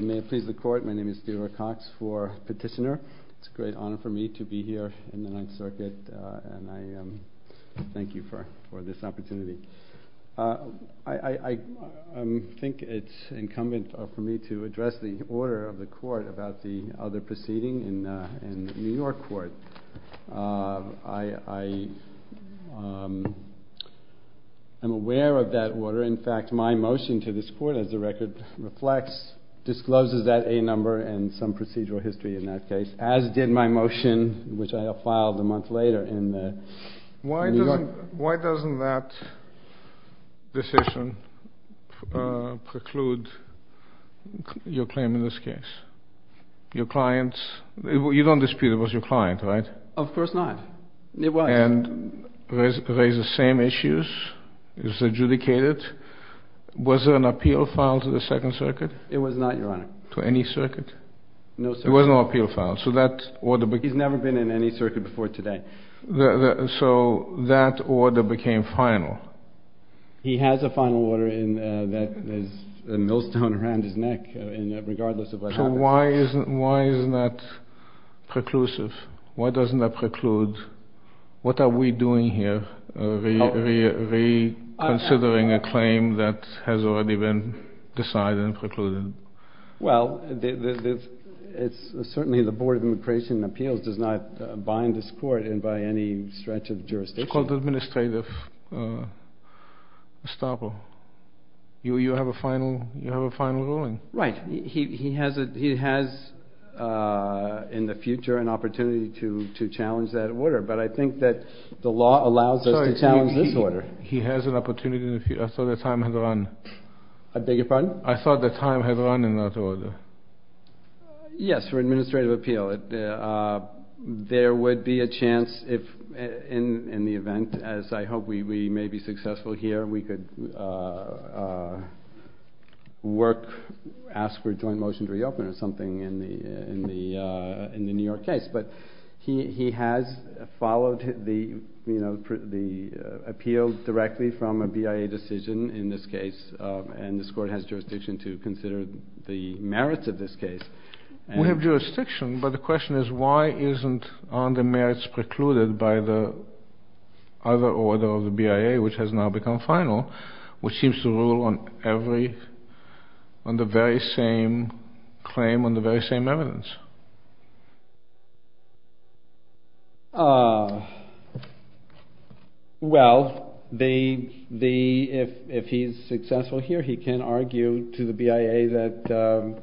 May it please the court, my name is Theodore Cox for petitioner. It's a great honor for me to be here in the Ninth Circuit and I thank you for this opportunity. I think it's incumbent for me to address the order of the court about the other proceeding in New York court. I am aware of that order. In fact, my motion to this court, as the record reflects, discloses that A number and some procedural history in that case, as did my motion, which I filed a month later in New York. Why doesn't that decision preclude your claim in this case? Your client's? You don't dispute it was your client, right? Of course not. It was. And raises the same issues? Is it adjudicated? Was there an appeal filed to the Second Circuit? It was not, Your Honor. To any circuit? No, sir. There was no appeal filed, so that order... He's never been in any circuit before today. So that order became final? He has a final order that is a millstone around his neck, regardless of what happens. So why isn't that preclusive? Why doesn't that preclude? What are we doing here? Reconsidering a claim that has already been decided and precluded? Well, certainly the Board of Immigration and Appeals does not bind this court in by any stretch of jurisdiction. It's called administrative estoppel. You have a final ruling. Right. He has in the future an opportunity to challenge that order, but I think that the law allows us to challenge this order. He has an opportunity in the future. I thought the time had run. I beg your pardon? I thought the time had run in that order. Yes, for administrative appeal. There would be a chance in the event, as I hope we may be successful here, we could ask for a joint motion to reopen or something in the New York case. But he has followed the appeal directly from a BIA decision in this case, and this court has jurisdiction to consider the merits of this case. We have jurisdiction, but the question is why aren't the merits precluded by the other order of the BIA, which has now become final, which seems to rule on the very same claim, on the very same evidence? Well, if he's successful here, he can argue to the BIA that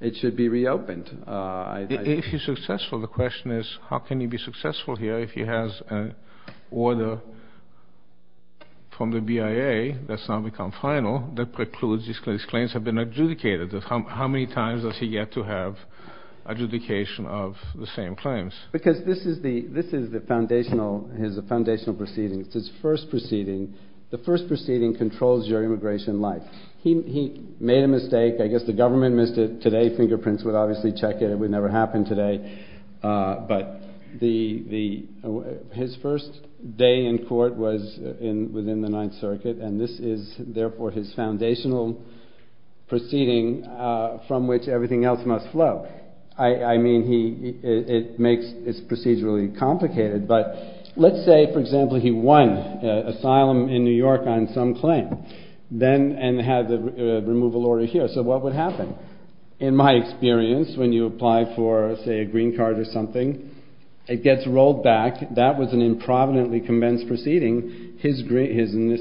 it should be reopened. If he's successful, the question is how can he be successful here if he has an order from the BIA that's now become final that precludes these claims have been adjudicated? How many times does he get to have adjudication of the same claims? Because this is his foundational proceeding. It's his first proceeding. The first proceeding controls your immigration life. He made a mistake. I guess the government missed it today. Fingerprints would obviously check it. It would never happen today. But his first day in court was within the Ninth Circuit, and this is therefore his foundational proceeding from which everything else must flow. I mean, it's procedurally complicated, but let's say, for example, he won asylum in New York on some claim and had the removal order here. So what would happen? In my experience, when you apply for, say, a green card or something, it gets rolled back. If that was an improvidently convinced proceeding, his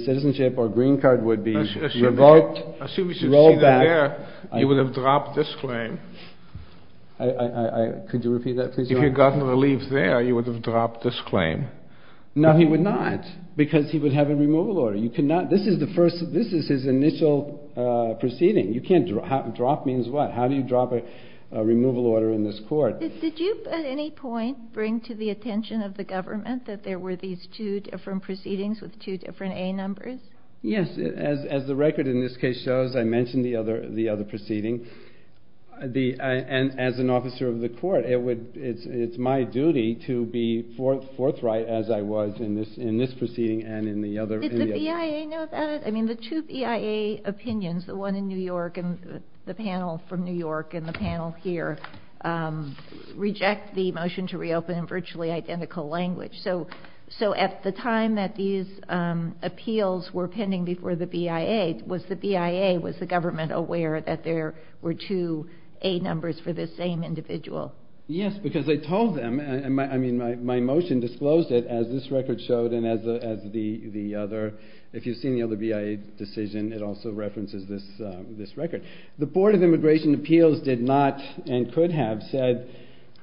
citizenship or green card would be revoked, rolled back. I assume you should see that there. You would have dropped this claim. Could you repeat that, please, Your Honor? If you had gotten relief there, you would have dropped this claim. No, he would not, because he would have a removal order. This is his initial proceeding. Drop means what? How do you drop a removal order in this court? Did you at any point bring to the attention of the government that there were these two different proceedings with two different A numbers? Yes. As the record in this case shows, I mentioned the other proceeding. As an officer of the court, it's my duty to be forthright as I was in this proceeding and in the other. Did the BIA know about it? I mean, the two BIA opinions, the one in New York and the panel from New York and the panel here, reject the motion to reopen in virtually identical language. So at the time that these appeals were pending before the BIA, was the BIA, was the government aware that there were two A numbers for this same individual? Yes, because I told them. I mean, my motion disclosed it as this record showed and as the other. If you've seen the other BIA decision, it also references this record. The Board of Immigration Appeals did not and could have said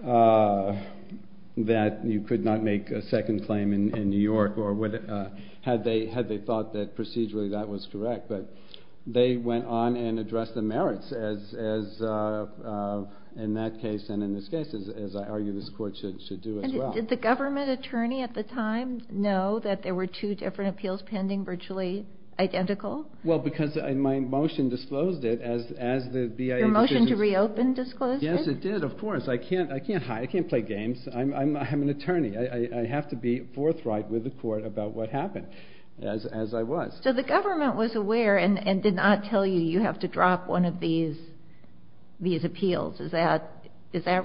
that you could not make a second claim in New York, had they thought that procedurally that was correct. But they went on and addressed the merits as in that case and in this case, as I argue this court should do as well. Did the government attorney at the time know that there were two different appeals pending virtually identical? Well, because my motion disclosed it as the BIA decision. Your motion to reopen disclosed it? Yes, it did. Of course. I can't play games. I'm an attorney. I have to be forthright with the court about what happened as I was. So the government was aware and did not tell you, you have to drop one of these appeals. Is that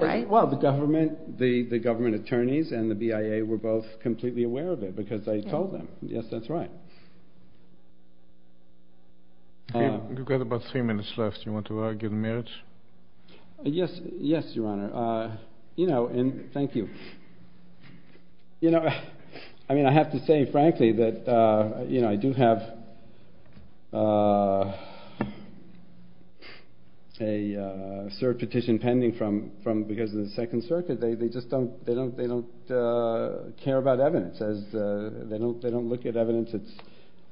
right? Well, the government, the government attorneys and the BIA were both completely aware of it because I told them. Yes, that's right. You've got about three minutes left. Do you want to argue the merits? Yes. Yes, Your Honor. You know, and thank you. You know, I mean, I have to say, frankly, that, you know, I do have a cert petition pending from from because of the Second Circuit. They just don't they don't they don't care about evidence as they don't they don't look at evidence. It's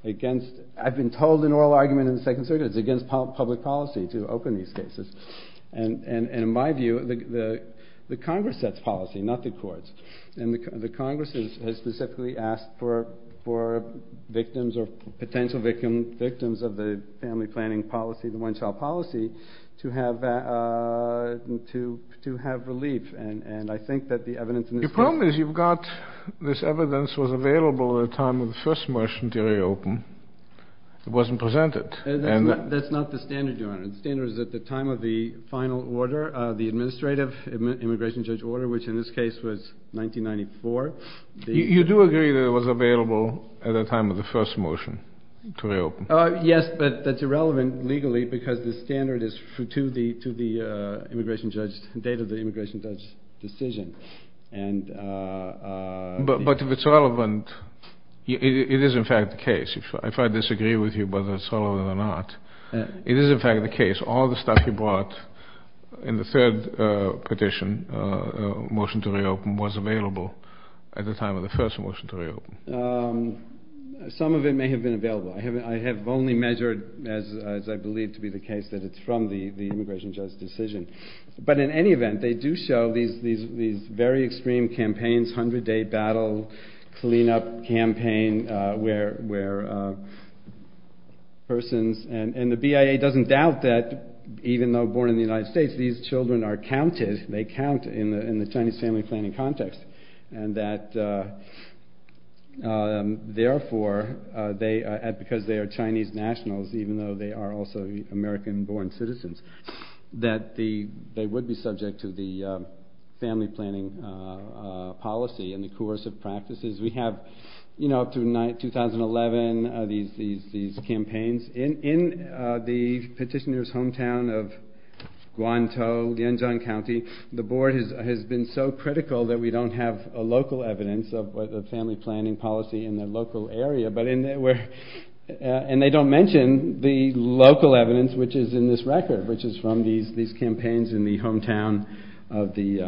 against I've been told an oral argument in the Second Circuit is against public policy to open these cases. And in my view, the Congress sets policy, not the courts. And the Congress has specifically asked for for victims or potential victim victims of the family planning policy, the one child policy to have to to have relief. And I think that the evidence in the film is you've got this evidence was available at the time of the first motion to reopen. It wasn't presented. And that's not the standard, Your Honor. The standard is at the time of the final order, the administrative immigration judge order, which in this case was 1994. You do agree that it was available at the time of the first motion to reopen. Yes, but that's irrelevant legally because the standard is true to the to the immigration judge date of the immigration judge decision. And but if it's relevant, it is, in fact, the case. If I disagree with you, whether it's relevant or not, it is, in fact, the case. All the stuff you brought in the third petition motion to reopen was available at the time of the first motion to reopen. Some of it may have been available. I have I have only measured as I believe to be the case that it's from the immigration judge decision. But in any event, they do show these these these very extreme campaigns, hundred day battle cleanup campaign where where. Persons and the BIA doesn't doubt that even though born in the United States, these children are counted. They count in the Chinese family planning context and that therefore they add because they are Chinese nationals, even though they are also American born citizens, that the they would be subject to the family planning policy and the coercive practices. We have, you know, up to 2011, these these these campaigns in the petitioner's hometown of Guantanamo County. The board has been so critical that we don't have a local evidence of the family planning policy in the local area. But in there were and they don't mention the local evidence, which is in this record, which is from these these campaigns in the hometown of the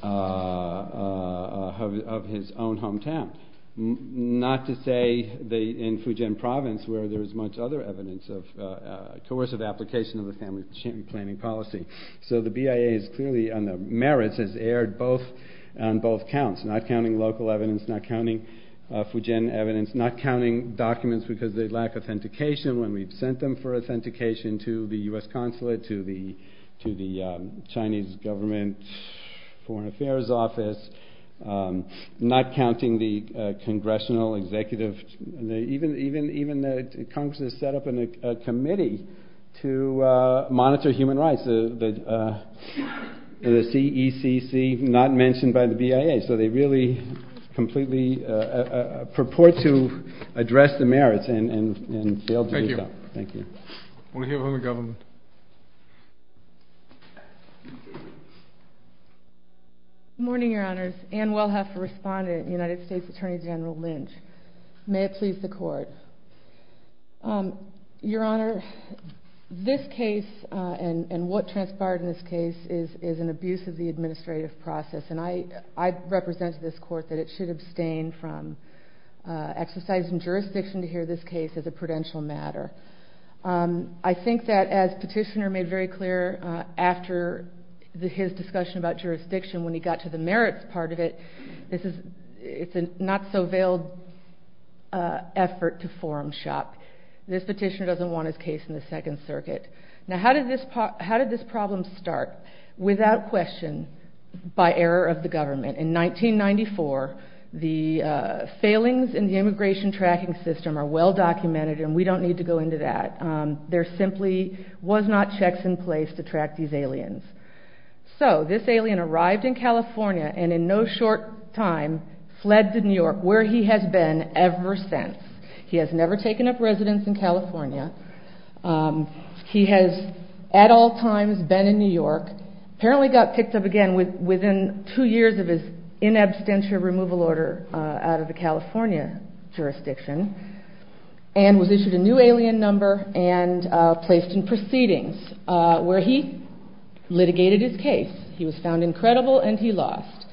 of his own hometown. Not to say they in Fujian province where there is much other evidence of coercive application of the family planning policy. So the BIA is clearly on the merits has aired both on both counts, not counting local evidence, not counting Fujian evidence, not counting documents because they lack authentication when we've sent them for authentication to the U.S. consulate, to the to the Chinese government foreign affairs office, not counting the congressional executive, even even even the Congress has set up a committee to monitor human rights. The CECC not mentioned by the BIA. So they really completely purport to address the merits and thank you. Thank you. We'll hear from the government. Morning, Your Honors. And we'll have to respond to United States Attorney General Lynch. May it please the court. Your Honor, this case and what transpired in this case is is an abuse of the administrative process. And I I represent this court that it should abstain from exercising jurisdiction to hear this case as a prudential matter. I think that as petitioner made very clear after his discussion about jurisdiction, when he got to the merits part of it, this is it's a not so veiled effort to forum shop. This petitioner doesn't want his case in the Second Circuit. Now, how did this how did this problem start? Without question, by error of the government in 1994, the failings in the immigration tracking system are well documented. And we don't need to go into that. So this alien arrived in California and in no short time fled to New York, where he has been ever since. He has never taken up residence in California. He has at all times been in New York, apparently got picked up again within two years of his in absentia removal order out of the California jurisdiction. And was issued a new alien number and placed in proceedings where he litigated his case. He was found incredible and he lost.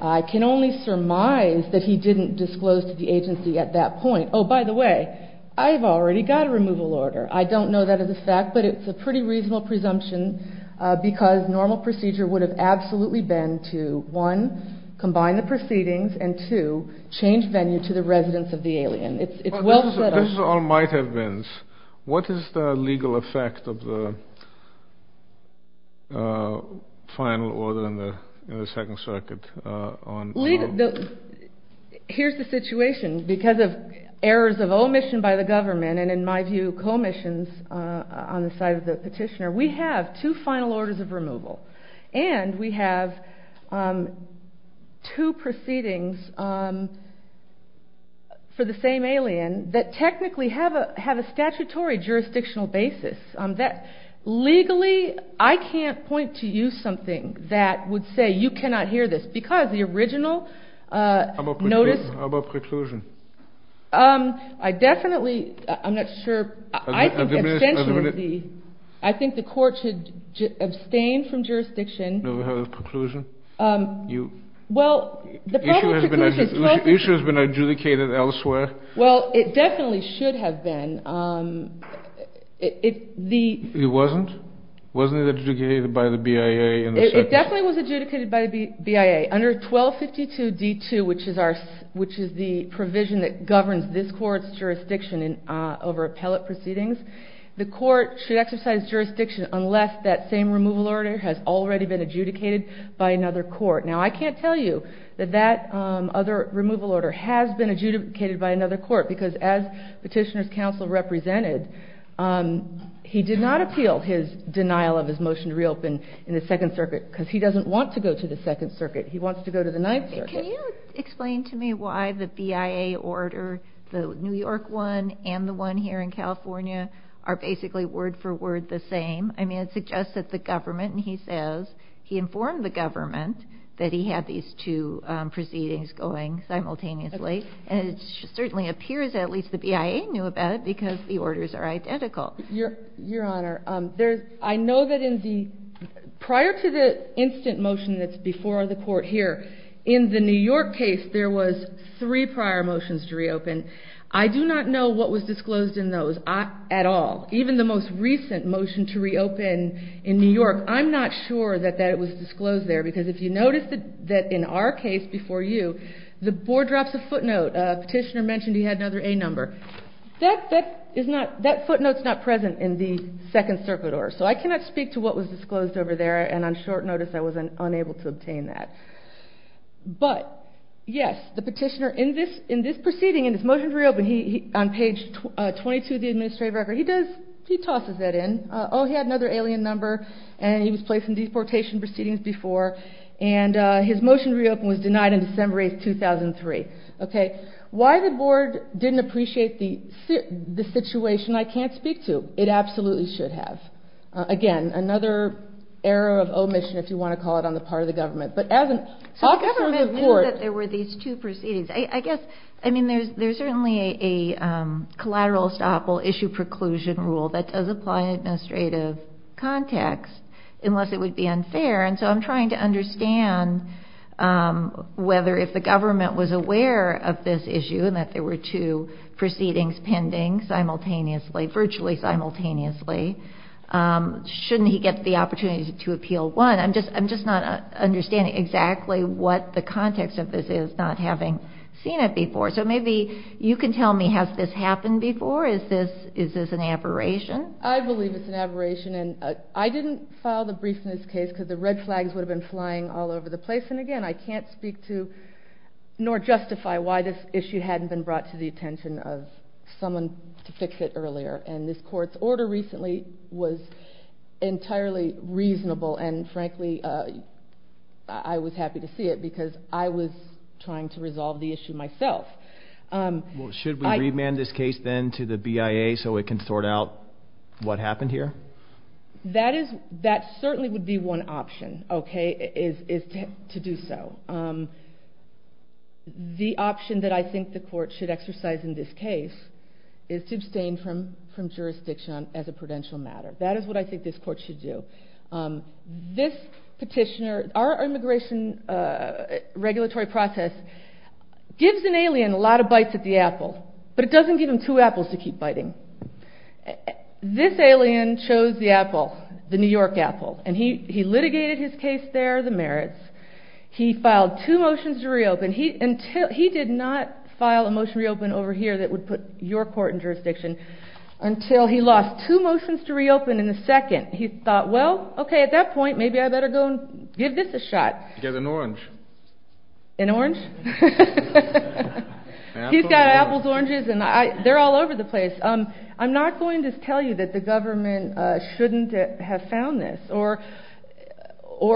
I can only surmise that he didn't disclose to the agency at that point. Oh, by the way, I've already got a removal order. I don't know that as a fact, but it's a pretty reasonable presumption because normal procedure would have absolutely been to one, combine the proceedings and to change venue to the residence of the alien. It's well said. This is all might have been. What is the legal effect of the final order in the Second Circuit? Here's the situation. Because of errors of omission by the government and, in my view, co-omissions on the side of the petitioner, we have two final orders of removal and we have two proceedings for the same alien that technically have a statutory jurisdictional basis. Legally, I can't point to you something that would say you cannot hear this because the original notice... How about preclusion? I definitely, I'm not sure. I think the court should abstain from jurisdiction. No, we have a preclusion. Well, the public preclusion... The issue has been adjudicated elsewhere. Well, it definitely should have been. It wasn't? Wasn't it adjudicated by the BIA in the Second Circuit? It definitely was adjudicated by the BIA. Under 1252D2, which is the provision that governs this court's jurisdiction over appellate proceedings, the court should exercise jurisdiction unless that same removal order has already been adjudicated by another court. Now, I can't tell you that that other removal order has been adjudicated by another court because as Petitioner's Counsel represented, he did not appeal his denial of his motion to reopen in the Second Circuit because he doesn't want to go to the Second Circuit. He wants to go to the Ninth Circuit. Can you explain to me why the BIA order, the New York one and the one here in California, are basically word for word the same? I mean, it suggests that the government, and he says he informed the government that he had these two proceedings going simultaneously and it certainly appears that at least the BIA knew about it because the orders are identical. Your Honor, I know that in the prior to the instant motion that's before the court here, in the New York case there was three prior motions to reopen. I do not know what was disclosed in those at all. Even the most recent motion to reopen in New York, I'm not sure that that was disclosed there because if you notice that in our case before you, the board drops a footnote. Petitioner mentioned he had another A number. That footnote's not present in the Second Circuit order, so I cannot speak to what was disclosed over there and on short notice I was unable to obtain that. But, yes, the Petitioner in this proceeding, in this motion to reopen, on page 22 of the administrative record, he tosses that in. Oh, he had another alien number and he was placed in deportation proceedings before and his motion to reopen was denied in December 8, 2003. Why the board didn't appreciate the situation, I can't speak to. It absolutely should have. Again, another error of omission, if you want to call it, on the part of the government. But as an officer of the court... So the government knew that there were these two proceedings. I guess, I mean, there's certainly a collateral estoppel issue preclusion rule that does apply in administrative context unless it would be unfair. And so I'm trying to understand whether if the government was aware of this issue and that there were two proceedings pending simultaneously, virtually simultaneously, shouldn't he get the opportunity to appeal one? I'm just not understanding exactly what the context of this is, not having seen it before. So maybe you can tell me, has this happened before? Is this an aberration? I believe it's an aberration. And I didn't file the brief in this case because the red flags would have been flying all over the place. And, again, I can't speak to nor justify why this issue hadn't been brought to the attention of someone to fix it earlier. And this court's order recently was entirely reasonable. And, frankly, I was happy to see it because I was trying to resolve the issue myself. Should we remand this case then to the BIA so it can sort out what happened here? That certainly would be one option, okay, is to do so. The option that I think the court should exercise in this case is to abstain from jurisdiction as a prudential matter. That is what I think this court should do. This petitioner, our immigration regulatory process gives an alien a lot of bites at the apple, but it doesn't give him two apples to keep biting. This alien chose the apple, the New York apple, and he litigated his case there, the merits. He filed two motions to reopen. He did not file a motion to reopen over here that would put your court in jurisdiction until he lost two motions to reopen in a second. He thought, well, okay, at that point, maybe I better go and give this a shot. Get an orange. An orange? He's got apples, oranges, and they're all over the place. I'm not going to tell you that the government shouldn't have found this or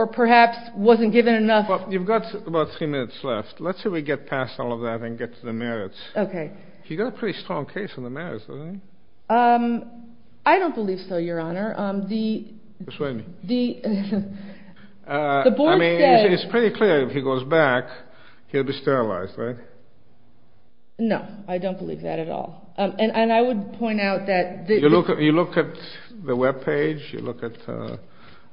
perhaps wasn't given enough. You've got about three minutes left. Let's say we get past all of that and get to the merits. Okay. He got a pretty strong case on the merits, doesn't he? I don't believe so, Your Honor. Persuade me. I mean, it's pretty clear if he goes back, he'll be sterilized, right? No, I don't believe that at all. And I would point out that the— You look at the webpage. You look at—I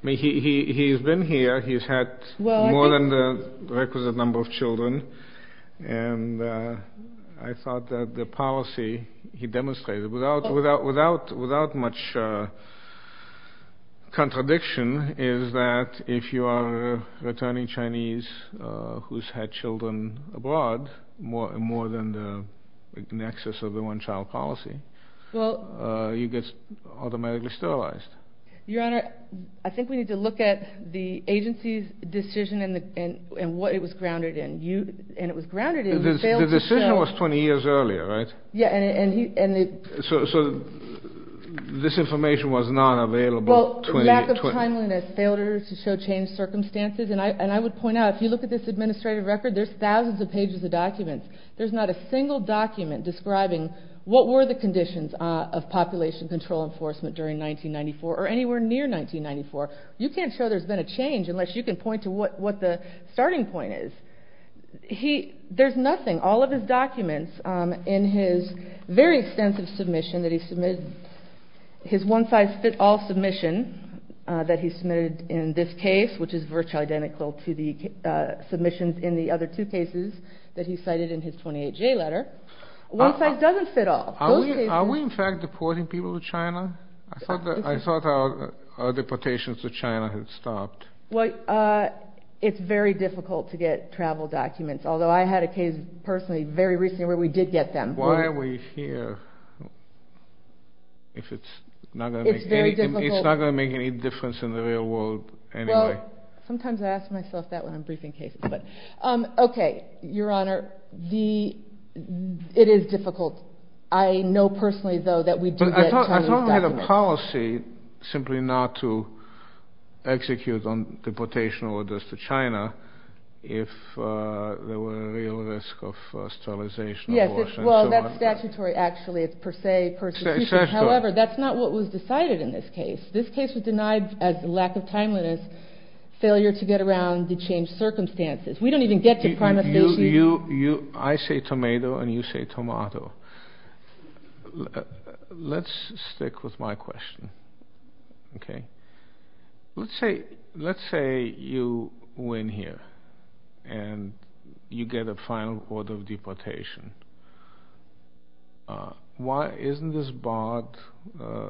mean, he's been here. He's had more than the requisite number of children. And I thought that the policy he demonstrated, without much contradiction, is that if you are a returning Chinese who's had children abroad, more than the nexus of the one-child policy, you get automatically sterilized. Your Honor, I think we need to look at the agency's decision and what it was grounded in. And it was grounded in— The decision was 20 years earlier, right? Yeah, and he— So this information was not available 20 years— Well, lack of timeliness, failure to show changed circumstances. And I would point out, if you look at this administrative record, there's thousands of pages of documents. There's not a single document describing what were the conditions of population control enforcement during 1994 or anywhere near 1994. You can't show there's been a change unless you can point to what the starting point is. There's nothing. All of his documents in his very extensive submission that he submitted, his one-size-fits-all submission that he submitted in this case, which is virtually identical to the submissions in the other two cases that he cited in his 28J letter, one-size-doesn't-fit-all. Are we, in fact, deporting people to China? I thought our deportations to China had stopped. Well, it's very difficult to get travel documents, although I had a case personally very recently where we did get them. Why are we here if it's not going to make any difference in the real world anyway? Well, sometimes I ask myself that when I'm briefing cases. Okay, Your Honor, it is difficult. I know personally, though, that we do get Chinese documents. I thought we had a policy simply not to execute on deportation orders to China if there were a real risk of sterilization, abortion, and so on. Yes, well, that's statutory actually. It's per se, persecution. However, that's not what was decided in this case. This case was denied as a lack of timeliness, failure to get around, to change circumstances. We don't even get to prima facie. I say tomato and you say tomato. Let's stick with my question. Okay. Let's say you win here and you get a final court of deportation. Why isn't this barred,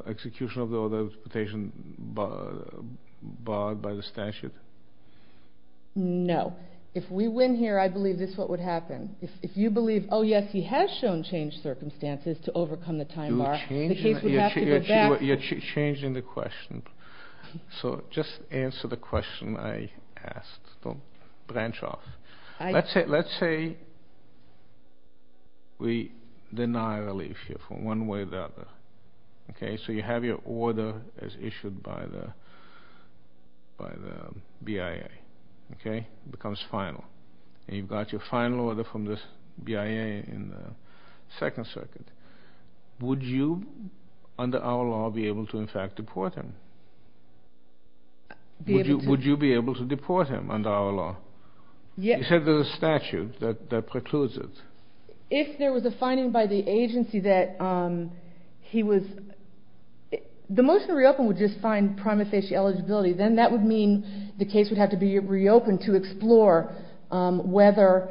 execution of the order of deportation barred by the statute? No. If we win here, I believe this is what would happen. If you believe, oh, yes, he has shown changed circumstances to overcome the time bar, the case would have to go back. You're changing the question. So just answer the question I asked. Don't branch off. Let's say we deny relief here from one way or the other. Okay. So you have your order as issued by the BIA. Okay. It becomes final. And you've got your final order from the BIA in the Second Circuit. Would you, under our law, be able to, in fact, deport him? Would you be able to deport him under our law? You said there's a statute that precludes it. If there was a finding by the agency that he was – the motion to reopen would just find prima facie eligibility. Then that would mean the case would have to be reopened to explore whether,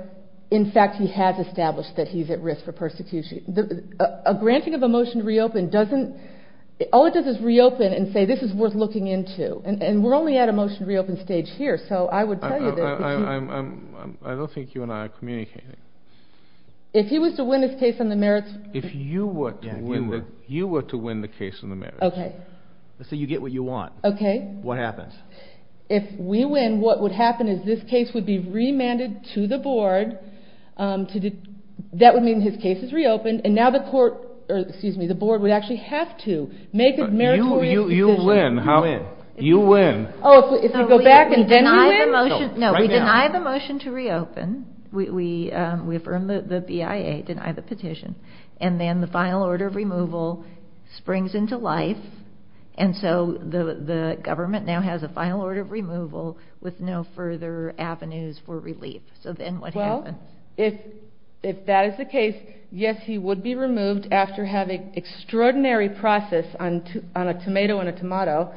in fact, he has established that he's at risk for persecution. A granting of a motion to reopen doesn't – all it does is reopen and say this is worth looking into. And we're only at a motion to reopen stage here. So I would tell you this. I don't think you and I are communicating. If he was to win his case on the merits – If you were to win the case on the merits. Okay. So you get what you want. Okay. What happens? If we win, what would happen is this case would be remanded to the board. That would mean his case is reopened. And now the court – or, excuse me, the board would actually have to make a meritorious decision. You win. You win. Oh, if you go back and then you win? No, we deny the motion to reopen. We affirm the BIA, deny the petition. And then the final order of removal springs into life. And so the government now has a final order of removal with no further avenues for relief. So then what happens? Well, if that is the case, yes, he would be removed after having extraordinary process on a tomato and a tomato.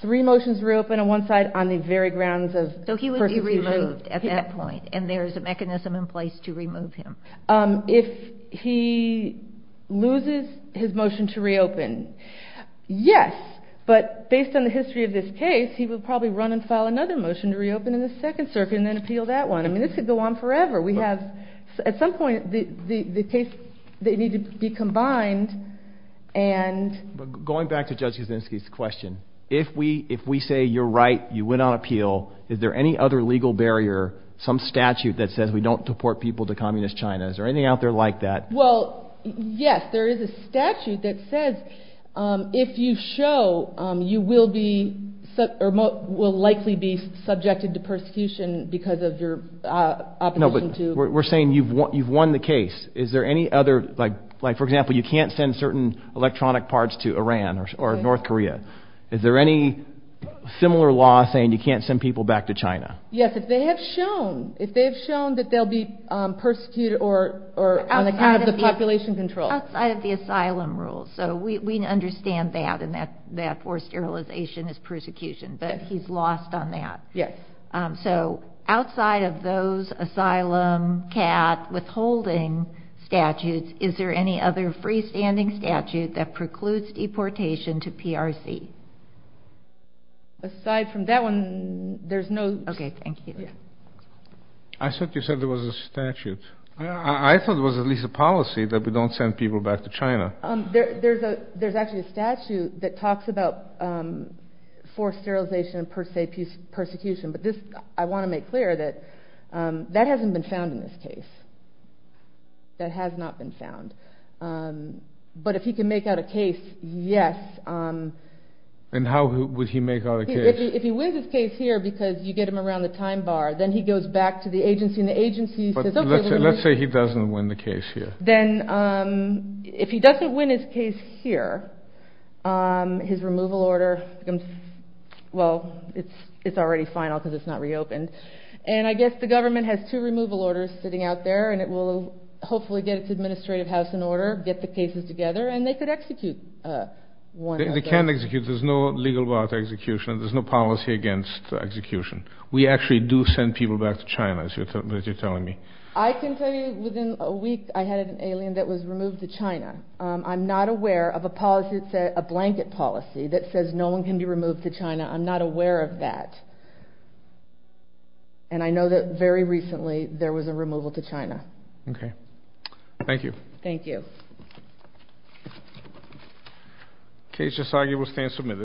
Three motions reopen on one side on the very grounds of – So he would be removed at that point. And there is a mechanism in place to remove him. If he loses his motion to reopen, yes, but based on the history of this case, he would probably run and file another motion to reopen in the Second Circuit and then appeal that one. I mean, this could go on forever. We have – at some point the case – they need to be combined and – Going back to Judge Kaczynski's question, if we say you're right, you win on appeal, is there any other legal barrier, some statute that says we don't deport people to communist China? Is there anything out there like that? Well, yes, there is a statute that says if you show, you will be – will likely be subjected to persecution because of your opposition to – No, but we're saying you've won the case. Is there any other – like, for example, you can't send certain electronic parts to Iran or North Korea. Is there any similar law saying you can't send people back to China? Yes, if they have shown – if they have shown that they'll be persecuted or on account of the population control. Outside of the asylum rules. So we understand that and that forced sterilization is persecution, but he's lost on that. Yes. So outside of those asylum, CAT, withholding statutes, is there any other freestanding statute that precludes deportation to PRC? Aside from that one, there's no – Okay, thank you. I thought you said there was a statute. I thought it was at least a policy that we don't send people back to China. There's actually a statute that talks about forced sterilization and, per se, persecution. But this – I want to make clear that that hasn't been found in this case. That has not been found. But if he can make out a case, yes. And how would he make out a case? If he wins his case here because you get him around the time bar, then he goes back to the agency and the agency says, okay – But let's say he doesn't win the case here. Then if he doesn't win his case here, his removal order becomes – well, it's already final because it's not reopened. And I guess the government has two removal orders sitting out there and it will hopefully get its administrative house in order, get the cases together, and they could execute one of those. They can execute. There's no legal bar to execution. There's no policy against execution. We actually do send people back to China, as you're telling me. I can tell you within a week I had an alien that was removed to China. I'm not aware of a policy – it's a blanket policy that says no one can be removed to China. I'm not aware of that. And I know that very recently there was a removal to China. Okay. Thank you. Thank you. Case Sasaki will stand submitted.